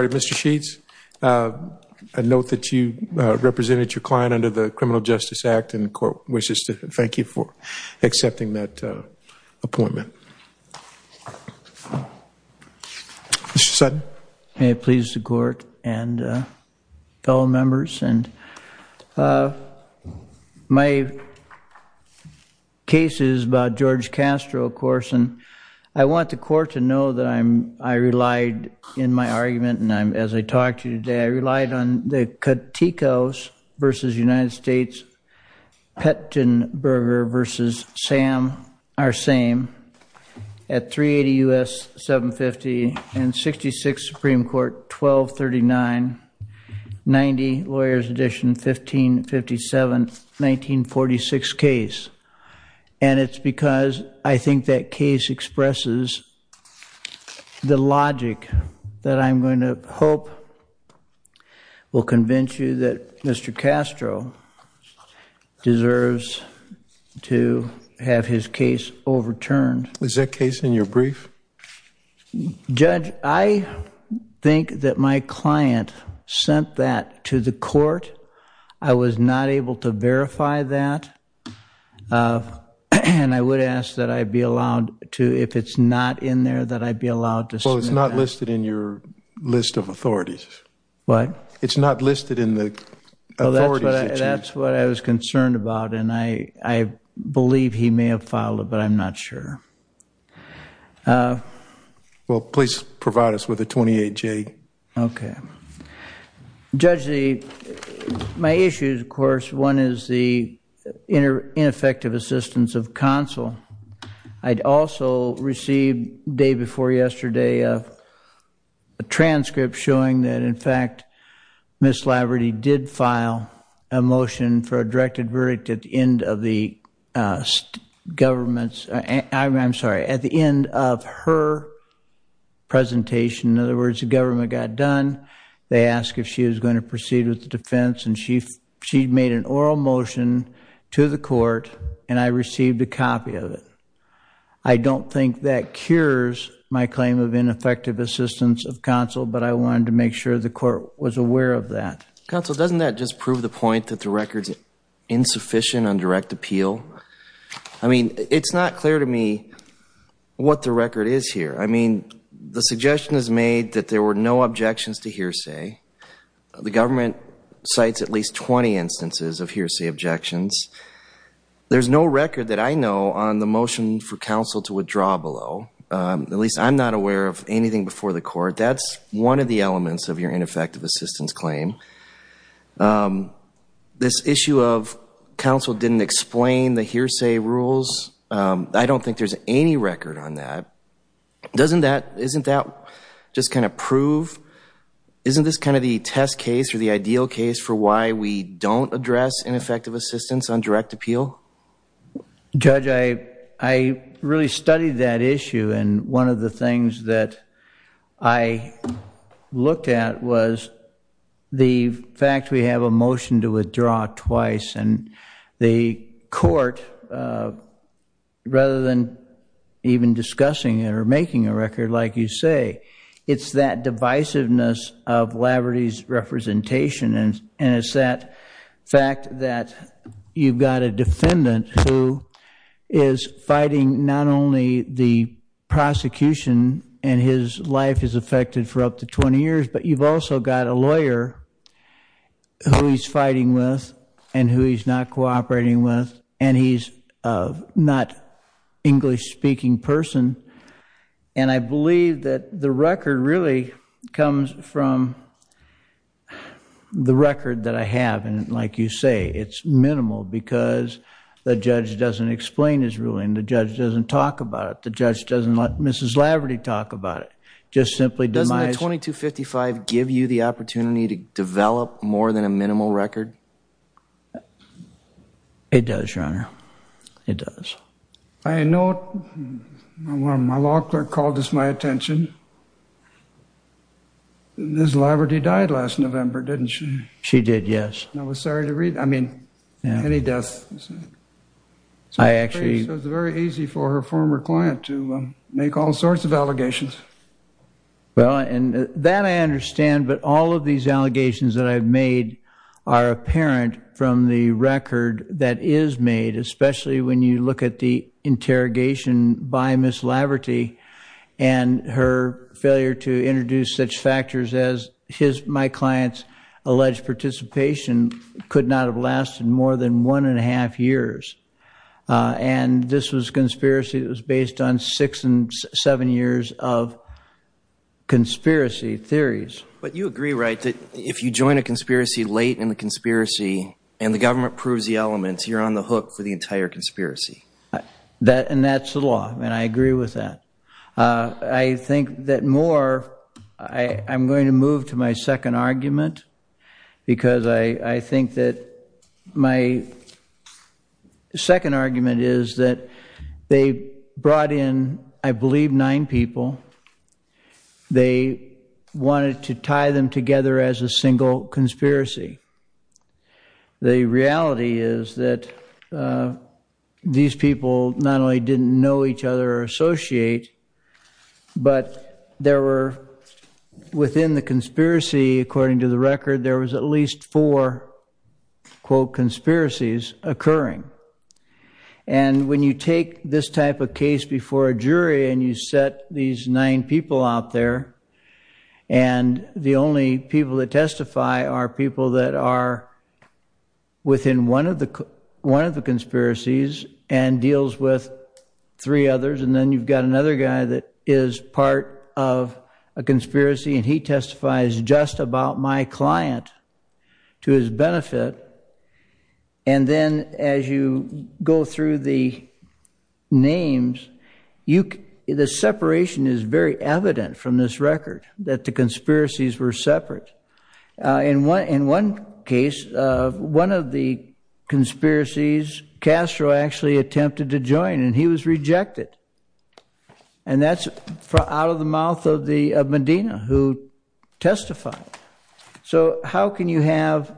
and Mr. Sheets, a note that you represented your client under the Criminal Justice Act and the court wishes to thank you for accepting that appointment. Mr. Sutton. May it please the court and fellow members and my case is about Jorge Castro, of course, and I want the court to know that I relied in my argument and as I talked to you today, I relied on the Katikos v. United States, Pettenberger v. Sam, our same at 380 U.S. 750 and 66 Supreme Court 1239 90 Lawyers Edition 1557 1946 case and it's because I think that case expresses the logic that I'm going to hope will convince you that Mr. Castro deserves to have his case overturned. Is that case in your brief? Judge, I think that my client sent that to the court. I was not able to verify that and I would ask that I be allowed to if it's not in there that I'd be allowed to. Well, it's not listed in your list of authorities. What? It's not listed in the authorities. That's what I was concerned about and I believe he may have it. I'm not sure. Well, please provide us with a 28-J. Okay. Judge, my issue, of course, one is the ineffective assistance of counsel. I'd also received day before yesterday a transcript showing that, in fact, Ms. Laverty did file a motion for a directed verdict at the end of the government's, I'm sorry, at the end of her presentation. In other words, the government got done. They asked if she was going to proceed with the defense and she made an oral motion to the court and I received a copy of it. I don't think that cures my claim of ineffective assistance of counsel, but I wanted to make sure the court was aware of that. Counsel, doesn't that just prove the point that the record's insufficient on direct appeal? I mean, it's not clear to me what the record is here. I mean, the suggestion is made that there were no objections to hearsay. The government cites at least 20 instances of hearsay objections. There's no record that I know on the motion for counsel to withdraw below. At least I'm not aware of anything before the court. That's one of the elements of your ineffective assistance claim. This issue of counsel didn't explain the hearsay rules, I don't think there's any record on that. Doesn't that, isn't that just kind of prove, isn't this kind of the test case or the ideal case for why we don't address ineffective assistance on direct appeal? Judge, I really studied that issue and one of the things that I looked at was the fact we have a motion to withdraw twice and the court, rather than even discussing it or making a record like you say, it's that divisiveness of Laverty's representation and it's that fact that you've got a defendant who is fighting not only the prosecution and his life is affected for up to 20 years, but you've also got a lawyer who he's fighting with and who he's not cooperating with and he's not an English-speaking person. And I believe that the record really comes from the record that I have and like you say, it's minimal because the judge doesn't explain his ruling, the judge doesn't talk about it, the judge doesn't let Mrs. Laverty talk about it, just simply demise. Doesn't the 2255 give you the opportunity to develop more than a minimal record? It does, Your Honor. It does. I know my law clerk called this my attention. Mrs. Laverty died last November, didn't she? She did, yes. I was sorry to read, I mean, any death. I actually... It was very easy for her former client to make all sorts of allegations. Well, and that I understand, but all of these are apparent from the record that is made, especially when you look at the interrogation by Ms. Laverty and her failure to introduce such factors as his, my client's, alleged participation could not have lasted more than one and a half years. And this was conspiracy that was based on six and seven years of conspiracy theories. But you agree, right, that if you join a conspiracy late in the conspiracy and the government proves the elements, you're on the hook for the entire conspiracy. That, and that's the law, and I agree with that. I think that more, I'm going to move to my second argument, because I think that my second argument is that they brought in, I believe, nine people. They wanted to tie them together as a single conspiracy. The reality is that these people not only didn't know each other or associate, but there were within the conspiracy, according to the record, there was at least four, quote, conspiracies occurring. And when you take this type of case before a jury and you set these nine people out there, and the only people that testify are people that are within one of the conspiracies and deals with three others, and then you've got another guy that is part of a conspiracy and he testifies just about my client to his benefit. And then as you go through the names, you, the separation is very evident from this record that the conspiracies were separate. In one, in one case, one of the conspiracies, Castro actually attempted to join and he was rejected. And that's out of the mouth of Medina, who testified. So how can you have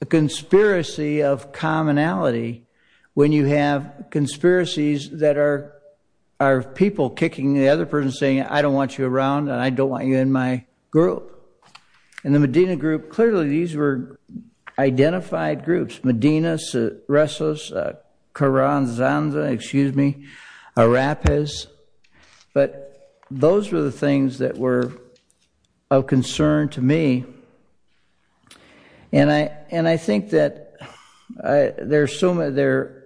a conspiracy of commonality when you have conspiracies that are, are people kicking the other person saying, I don't want you around and I don't want you in my group. In the Medina group, clearly these were identified groups. Medina, Suresos, Carranza, excuse me, Arrapes. But those were the things that were of concern to me. And I, and I think that there's so many, there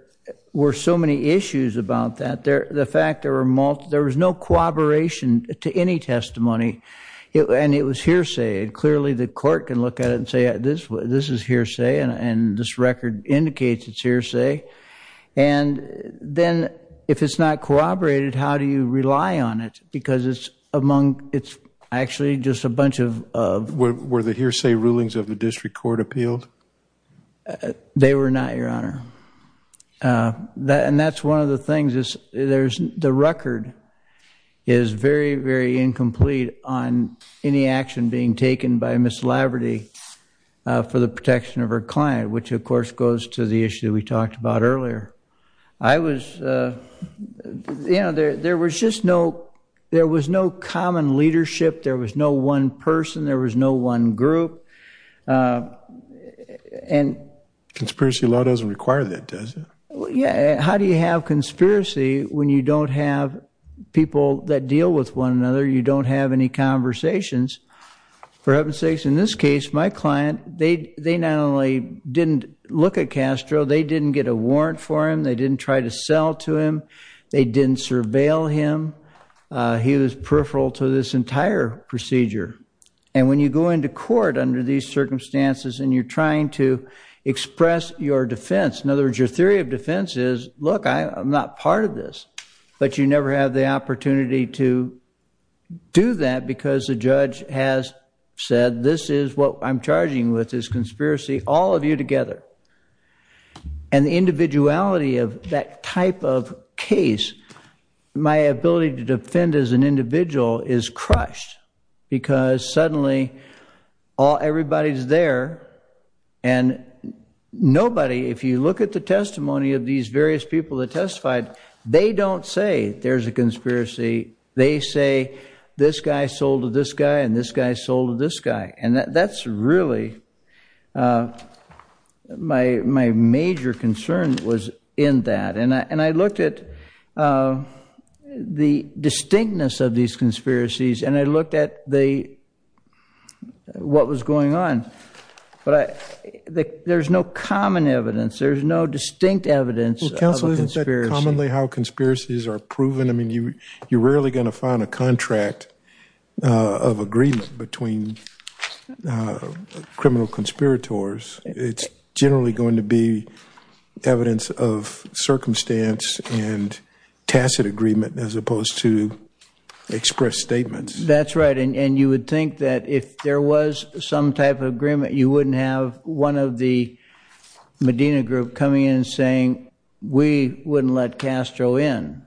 were so many issues about that. There, the fact there were multiple, there was no corroboration to any testimony. It, and it was hearsay. And clearly the court can look at it and say, this, this is hearsay and this record indicates it's hearsay. And then if it's not corroborated, how do you rely on it? Because it's among, it's actually just a bunch of, of... Were the hearsay rulings of the district court appealed? They were not, Your Honor. That, and that's one of the things is there's, the record is very, very incomplete on any action being taken by Ms. Laverty for the protection of her client, which of course goes to the issue we talked about earlier. I was, you know, there, there was just no, there was no common leadership. There was no one person. There was no one group. And... Conspiracy law doesn't require that, does it? Yeah. How do you have conspiracy when you don't have people that deal with one another? You don't have any conversations. For heaven's sakes, in this case, my client, they, they not only didn't look at Castro, they didn't get a warrant for him. They didn't try to sell to him. They didn't surveil him. He was peripheral to this entire procedure. And when you go into court under these circumstances and you're trying to express your defense, in other words, your theory of defense is, look, I'm not part of this. But you never have the opportunity to do that because the judge has said, this is what I'm charging with, this is conspiracy, all of you together. And the individuality of that type of case, my ability to defend as an individual is crushed because suddenly all, everybody's there and nobody, if you look at the testimony of these various people that testified, they don't say there's a conspiracy. They say this guy sold to this guy and this guy sold to this guy. And that's really my, my major concern was in that. And I, and I looked at the distinctness of these conspiracies and I looked at the, what was going on. But I, there's no common evidence, there's no distinct evidence of a conspiracy. Well, counsel, isn't that commonly how conspiracies are proven? I mean, you, you're rarely going to find a contract of agreement between criminal conspirators. It's generally going to be evidence of circumstance and tacit agreement as opposed to express statements. That's right. And you would think that if there was some type of agreement, you wouldn't have one of the Medina group coming in and saying, we wouldn't let Castro in.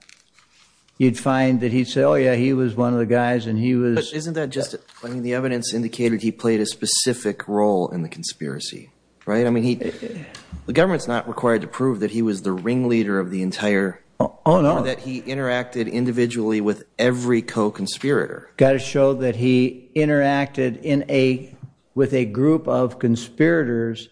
You'd find that he'd say, oh yeah, he was one of the guys and he was. But isn't that just, I mean, the evidence indicated he played a specific role in the conspiracy, right? I mean, he, the government's not required to prove that he was the ringleader of the entire. Oh no. Or that he interacted individually with every co-conspirator. Got to show that he interacted in a, with a group of conspirators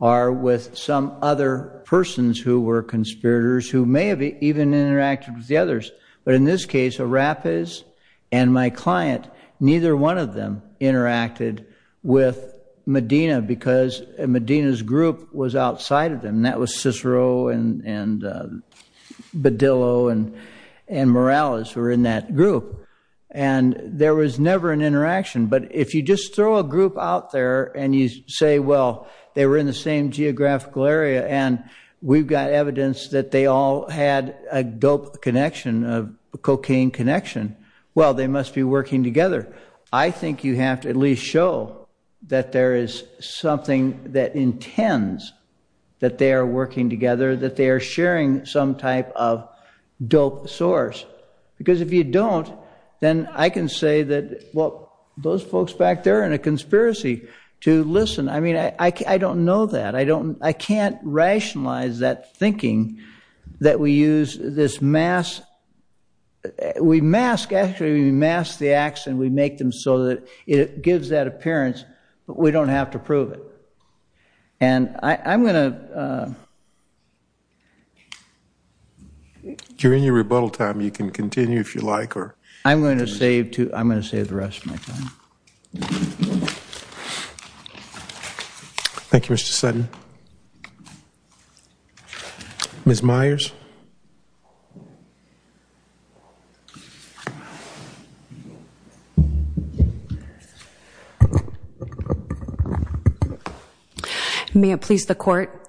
or with some other persons who were conspirators who may have even interacted with the others. But in this case, Arrapes and my client, neither one of them interacted with Medina because Medina's group was outside of them. That was Cicero and Badillo and Morales were in that group. And there was never an interaction. But if you just throw a group out there and you say, well, they were in the same geographical area and we've got evidence that they all had a dope connection, a cocaine connection, well, they must be working together. I think you have to at least show that there is something that intends that they are working together, that they are sharing some type of dope source. Because if you don't, then I can say that, well, those folks back there are in a conspiracy to listen. I mean, I don't know that. I don't, I can't rationalize that thinking that we use this mask. We mask, actually we mask the acts and we make them so that it gives that appearance, but we don't have to prove it. And I'm going to... During your rebuttal time, you can continue if you like, or... I'm going to save the rest of my time. Thank you, Mr. Sutton. Ms. Myers. May it please the court,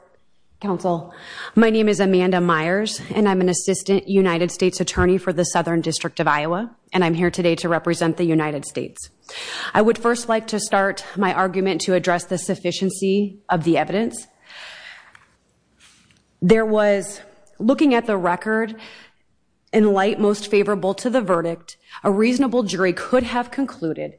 counsel. My name is Amanda Myers and I'm an assistant United States attorney for the Southern District of Iowa, and I'm here today to represent the United States. I would first like to start my argument to address the sufficiency of the evidence. There was, looking at the record, in light most favorable to the verdict, a reasonable jury could have concluded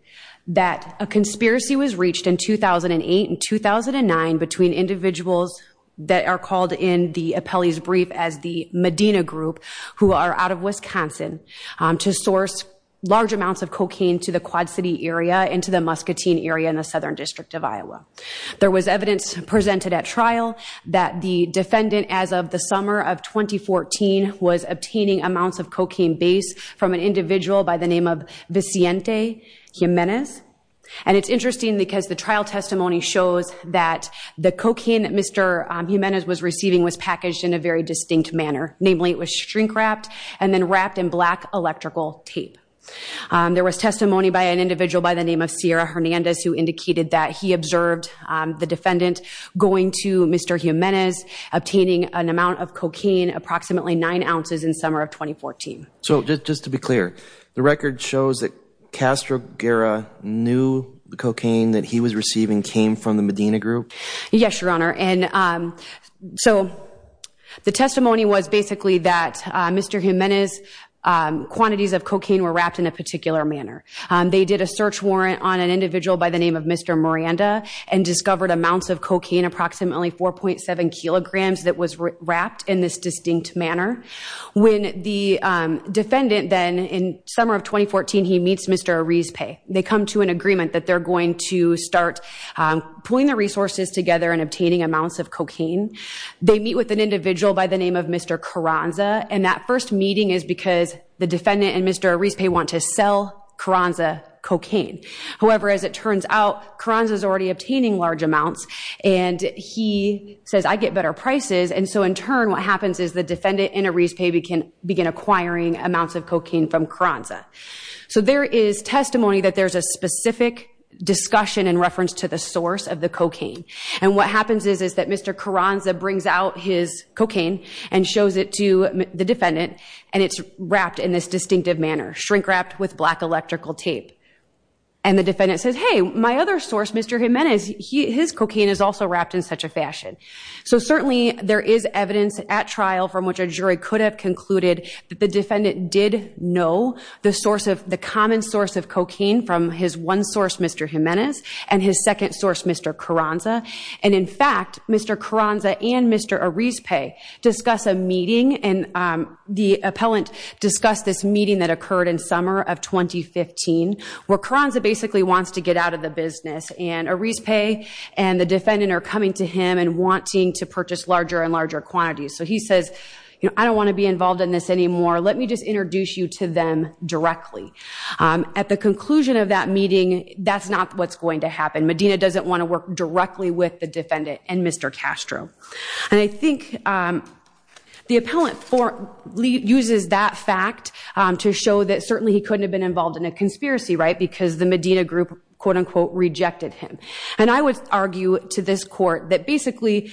that a conspiracy was reached in 2008 and 2009 between individuals that are called in the appellee's brief as the Medina Group, who are out of Wisconsin, to source large amounts of cocaine to the Quad City area and to the Muscatine area in the Southern District of Iowa. There was evidence presented at trial that the defendant, as of the summer of 2014, was obtaining amounts of cocaine base from an individual by the name of Vicente Jimenez. And it's interesting because the trial testimony shows that the cocaine Mr. Jimenez was receiving was packaged in a very distinct manner. Namely, it was shrink-wrapped and then wrapped in black electrical tape. There was testimony by an individual by the name of Sierra Hernandez, who indicated that he observed the defendant going to Mr. Jimenez, obtaining an amount of 9 ounces in the summer of 2014. So, just to be clear, the record shows that Castro Guerra knew the cocaine that he was receiving came from the Medina Group? Yes, Your Honor, and so the testimony was basically that Mr. Jimenez's quantities of cocaine were wrapped in a particular manner. They did a search warrant on an individual by the name of Mr. Miranda and discovered amounts of cocaine, approximately 4.7 kilograms, that was wrapped in this distinct manner. When the defendant then, in summer of 2014, he meets Mr. Arizpe, they come to an agreement that they're going to start pulling the resources together and obtaining amounts of cocaine. They meet with an individual by the name of Mr. Carranza, and that first meeting is because the defendant and Mr. Arizpe want to sell Carranza cocaine. However, as it turns out, Carranza is already obtaining large amounts, and he says, I get better prices, and so in turn what happens is the defendant and Arizpe begin acquiring amounts of cocaine from Carranza. So there is testimony that there's a specific discussion in reference to the source of the cocaine, and what happens is that Mr. Carranza brings out his cocaine and shows it to the defendant, and it's wrapped in this distinctive manner, shrink-wrapped with black electrical tape. And the defendant says, hey, my other source, Mr. Jimenez, cocaine is also wrapped in such a fashion. So certainly there is evidence at trial from which a jury could have concluded that the defendant did know the source of the common source of cocaine from his one source, Mr. Jimenez, and his second source, Mr. Carranza. And in fact, Mr. Carranza and Mr. Arizpe discuss a meeting, and the appellant discussed this meeting that occurred in summer of 2015, where Carranza basically wants to get out of the business, and Arizpe and the defendant are coming to him and wanting to purchase larger and larger quantities. So he says, you know, I don't want to be involved in this anymore. Let me just introduce you to them directly. At the conclusion of that meeting, that's not what's going to happen. Medina doesn't want to work directly with the defendant and Mr. Castro. And I think the appellant uses that fact to show that he couldn't have been involved in a conspiracy, right, because the Medina group, quote unquote, rejected him. And I would argue to this court that basically,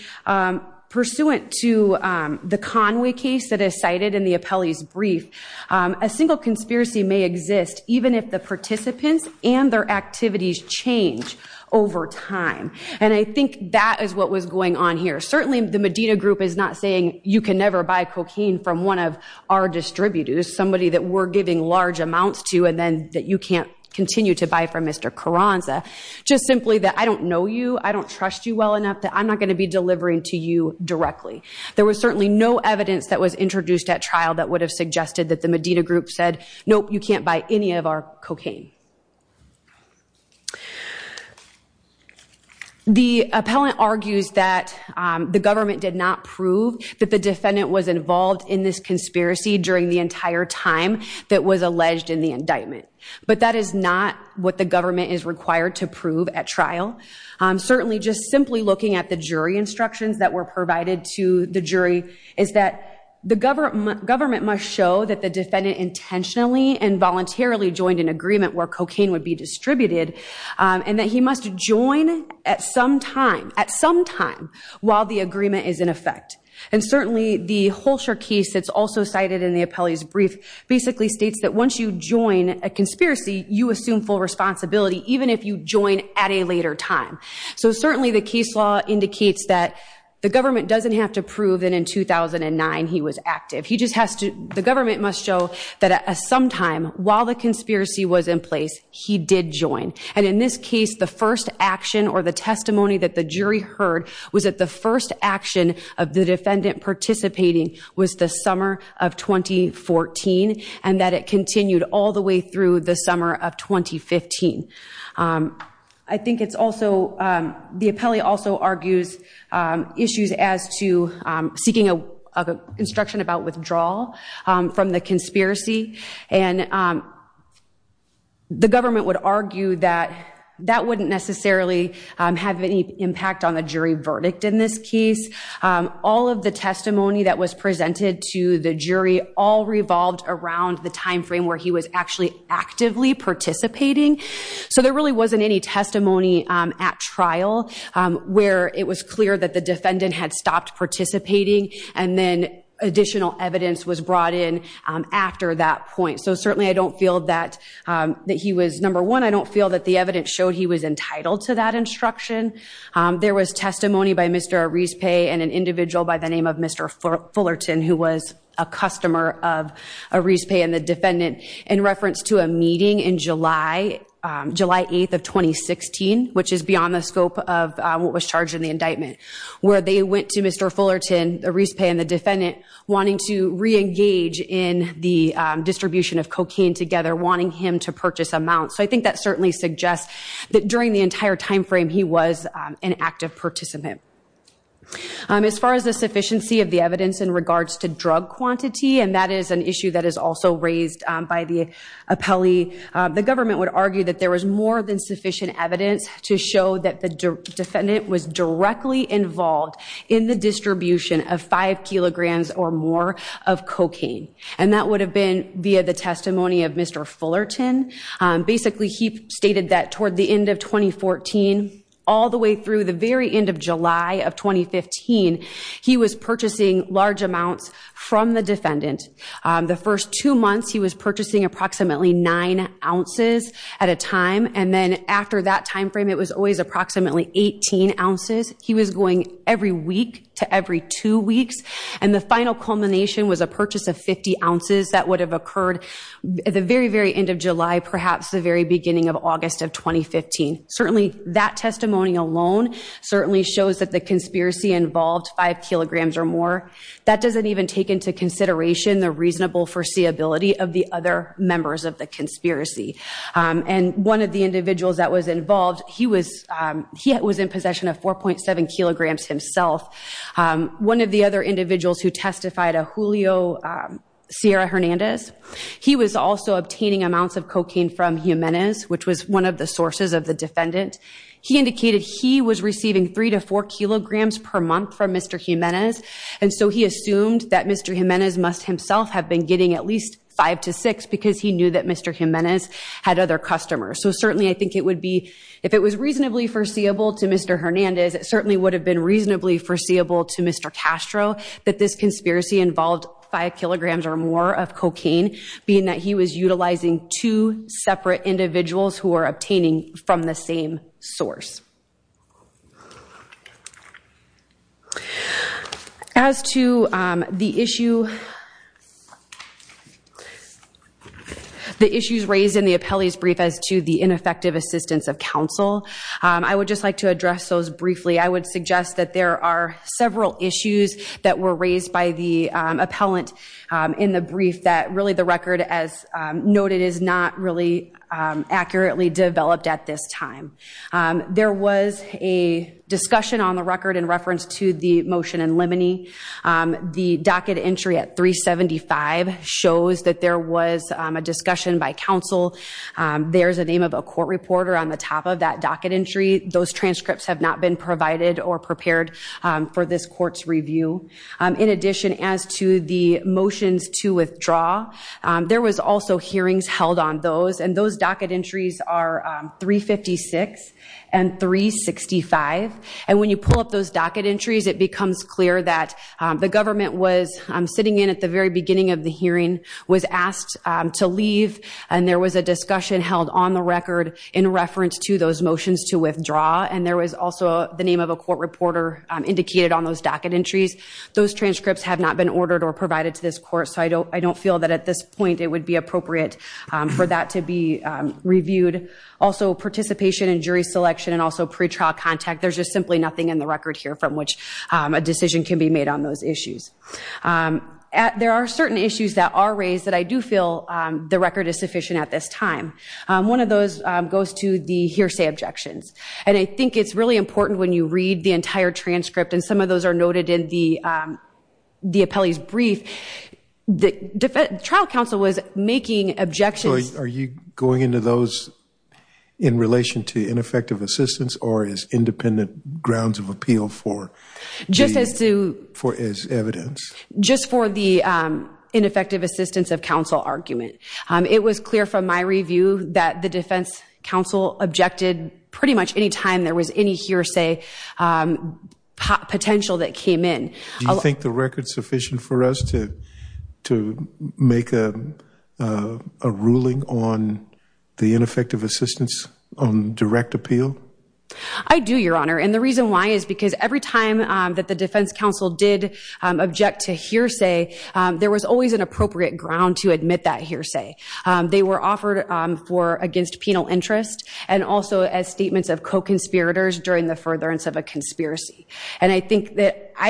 pursuant to the Conway case that is cited in the appellee's brief, a single conspiracy may exist even if the participants and their activities change over time. And I think that is what was going on here. Certainly the Medina group is not saying you can never buy cocaine from one of our distributors, somebody that we're giving large amounts to, and then that you can't continue to buy from Mr. Carranza. Just simply that I don't know you, I don't trust you well enough, that I'm not going to be delivering to you directly. There was certainly no evidence that was introduced at trial that would have suggested that the Medina group said, nope, you can't buy any of our cocaine. The appellant argues that the government did not prove that the defendant was involved in this conspiracy during the entire time that was alleged in the indictment. But that is not what the government is required to prove at trial. Certainly just simply looking at the jury instructions that were provided to the jury is that the government must show that the defendant intentionally and voluntarily joined an agreement where cocaine would be distributed, and that he must join at some time, at some time while the agreement is in effect. And certainly the Holsher case that's also cited in the appellee's brief basically states that once you join a conspiracy, you assume full responsibility, even if you join at a later time. So certainly the case law indicates that the government doesn't have to prove that in 2009 he was active. He just has to, the government must show that at some time while the conspiracy was in place, he did join. And in this case, the first action or the testimony that the jury heard was that the first action of the defendant participating was the summer of 2014, and that it continued all the way through the summer of 2015. I think it's also, the appellee also argues issues as to seeking a instruction about withdrawal from the conspiracy. And the government would argue that that wouldn't necessarily have any impact on the jury verdict in this case. All of the testimony that was presented to the jury all revolved around the time frame where he was actually actively participating. So there really wasn't any testimony at trial where it was clear that the defendant had stopped participating, and then I don't feel that he was, number one, I don't feel that the evidence showed he was entitled to that instruction. There was testimony by Mr. Arispe and an individual by the name of Mr. Fullerton who was a customer of Arispe and the defendant in reference to a meeting in July, July 8th of 2016, which is beyond the scope of what was charged in the indictment, where they went to Mr. Fullerton, Arispe and the defendant wanting to re-engage in the distribution of cocaine together, wanting him to purchase amounts. So I think that certainly suggests that during the entire time frame he was an active participant. As far as the sufficiency of the evidence in regards to drug quantity, and that is an issue that is also raised by the appellee, the government would argue that there was more than sufficient evidence to show that the defendant was directly involved in the distribution of five kilograms or more of cocaine. And that would have via the testimony of Mr. Fullerton. Basically he stated that toward the end of 2014, all the way through the very end of July of 2015, he was purchasing large amounts from the defendant. The first two months he was purchasing approximately nine ounces at a time, and then after that time frame it was always approximately 18 ounces. He was going every week to every two that would have occurred at the very, very end of July, perhaps the very beginning of August of 2015. Certainly that testimony alone certainly shows that the conspiracy involved five kilograms or more. That doesn't even take into consideration the reasonable foreseeability of the other members of the conspiracy. And one of the individuals that was involved, he was in possession of 4.7 kilograms himself. One of the other individuals who testified, a Julio Sierra Hernandez. He was also obtaining amounts of cocaine from Jimenez, which was one of the sources of the defendant. He indicated he was receiving three to four kilograms per month from Mr. Jimenez. And so he assumed that Mr. Jimenez must himself have been getting at least five to six because he knew that Mr. Jimenez had other customers. So certainly I think it would be, if it was reasonably foreseeable to Mr. Hernandez, it certainly would have been reasonably foreseeable to Mr. Castro that this conspiracy involved five kilograms or more of cocaine, being that he was utilizing two separate individuals who were obtaining from the same source. As to the issue, the issues raised in the appellee's brief as to the ineffective assistance of counsel, I would just like to address those briefly. I would suggest that there are several issues that were raised by the appellant in the brief that really the record as noted is not really accurately developed at this time. There was a discussion on the record in reference to the motion in limine. The docket entry at 375 shows that there was a discussion by counsel. There's a name of a court reporter on the top of that docket entry. Those transcripts have not been provided or prepared for this court's review. In addition, as to the motions to withdraw, there was also hearings held on those and those docket entries are 356 and 365. And when you pull up those docket entries, it becomes clear that the government was sitting in at the very beginning of the hearing, was asked to leave, and there was a discussion held on the record in reference to those motions to withdraw. And there was also the name of a court reporter indicated on those docket entries. Those transcripts have not been ordered or provided to this court, so I don't feel that at this point it would be appropriate for that to be reviewed. Also, participation in jury selection and also pretrial contact, there's just simply nothing in the record here from which a decision can be made on those issues. There are certain issues that are raised that I do feel the record is sufficient at this time. One of those goes to the hearsay objections. And I think it's really important when you read the entire transcript, and some of those are noted in the appellee's brief, the trial counsel was making objections. So are you going into those in relation to ineffective assistance or as independent grounds of appeal for evidence? Just for the ineffective assistance of counsel argument. It was clear from my review that the defense counsel objected pretty much any time there was any hearsay potential that came in. Do you think the record's sufficient for us to make a ruling on the ineffective assistance on direct appeal? I do, Your Honor, and the reason why is because every time that the defense counsel did object to hearsay, there was always an appropriate ground to admit that hearsay. They were offered for against penal interest and also as statements of co-conspirators during the furtherance of a conspiracy. And I think that I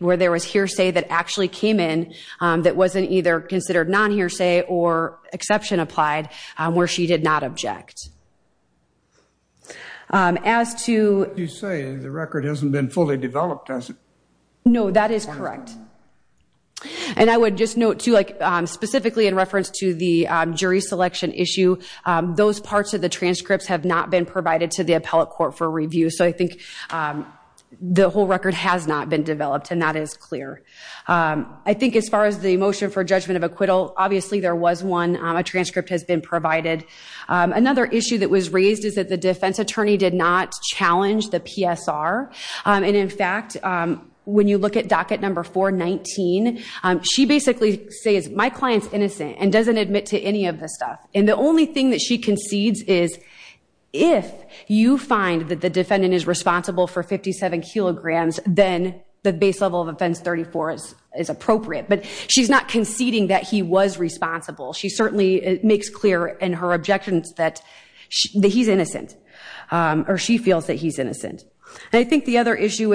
where there was hearsay that actually came in that wasn't either considered non-hearsay or exception applied, where she did not object. As to... You say the record hasn't been fully developed, has it? No, that is correct. And I would just note, too, like specifically in reference to the jury selection issue, those parts of the transcripts have not been provided to the appellate court for review. So I think the whole record has not been developed, and that is clear. I think as far as the motion for judgment of acquittal, obviously there was one. A transcript has been provided. Another issue that was raised is that the defense attorney did not challenge the PSR. And in fact, when you look at docket number 419, she basically says, my client's innocent and doesn't admit to any of this stuff. And the only thing that she concedes is if you find that the defendant is responsible for 57 kilograms, then the base level of offense 34 is appropriate. But she's not conceding that he was responsible. She certainly makes clear in her objections that he's innocent, or she feels that he's innocent. And I think the other issue,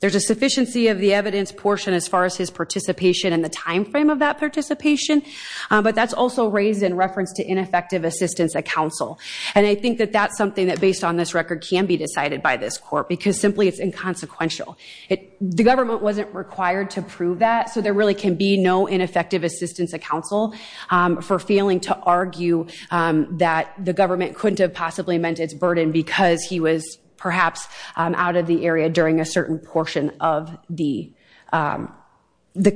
there's a sufficiency of the evidence portion as far as his participation and the timeframe of that participation. But that's also raised in reference to ineffective assistance at counsel. And I think that that's something that based on this record can be decided by this court, because simply it's inconsequential. The government wasn't required to prove that, so there really can be no ineffective assistance at counsel for failing to argue that the government couldn't have possibly meant its burden because he was perhaps out of the area during a certain portion of the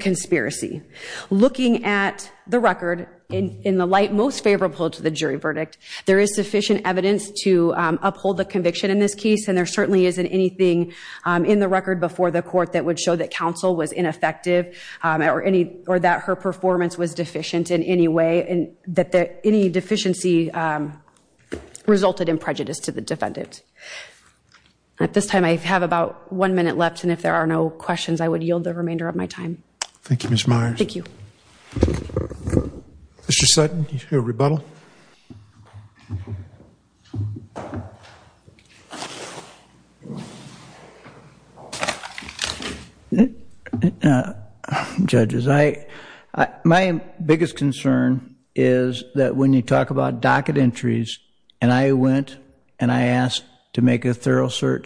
conspiracy. Looking at the record, in the light most favorable to the jury verdict, there is sufficient evidence to uphold the conviction in this case. And there certainly isn't anything in the record before the court that would show that counsel was ineffective, or that her performance was deficient in any way, and that any deficiency resulted in prejudice to the defendant. At this time, I have about one minute left. And if there are no questions, I would yield the remainder of my time. Thank you, Ms. Myers. Thank you. Mr. Sutton, you hear a rebuttal? Judges, my biggest concern is that when you talk about docket entries, and I went and I asked to sidebars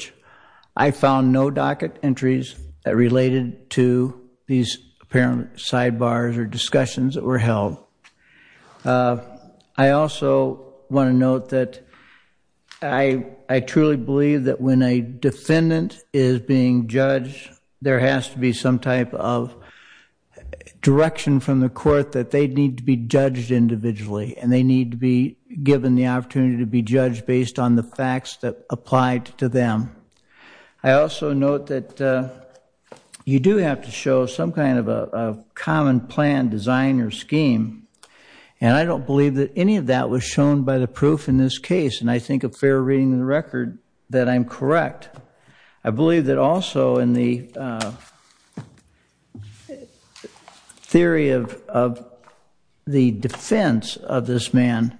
or discussions that were held, I also want to note that I truly believe that when a defendant is being judged, there has to be some type of direction from the court that they need to be judged individually, and they need to be given the opportunity to be judged based on the common plan, design, or scheme. And I don't believe that any of that was shown by the proof in this case, and I think a fair reading of the record that I'm correct. I believe that also in the theory of the defense of this man,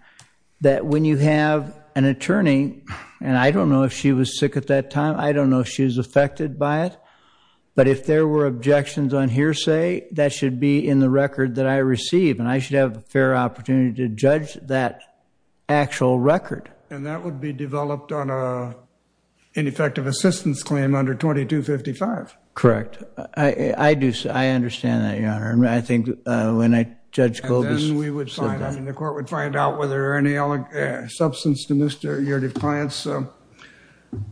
that when you have an attorney, and I don't know if she was sick at that time, I don't know if she was affected by it, but if there were objections on hearsay, that should be in the record that I receive, and I should have a fair opportunity to judge that actual record. And that would be developed on a ineffective assistance claim under 2255. Correct. I understand that, Your Honor. I think when Judge Kobus said that. The court would find out whether any substance to your defiant's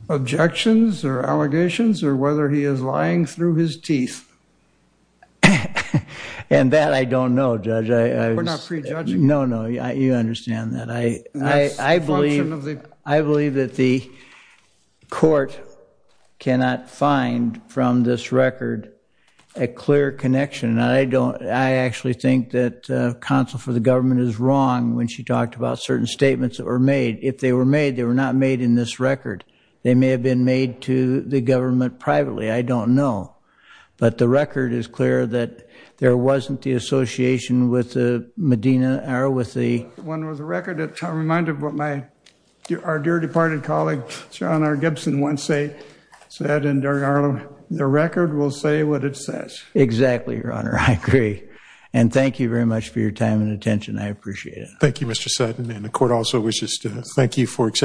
objections or allegations or he is lying through his teeth. And that I don't know, Judge. We're not prejudging. No, no, you understand that. I believe that the court cannot find from this record a clear connection, and I actually think that counsel for the government is wrong when she talked about certain statements that were made. If they were made, they were not made in this record. They may have been made to the government privately. I don't know. But the record is clear that there wasn't the association with the Medina or with the one with the record. It's a reminder of what my our dear departed colleague, Sean R. Gibson, once said, the record will say what it says. Exactly, Your Honor. I agree. And thank you very much for your time and attention. I appreciate it. Thank you, Mr. Sutton. And the court also wishes to thank you for accepting.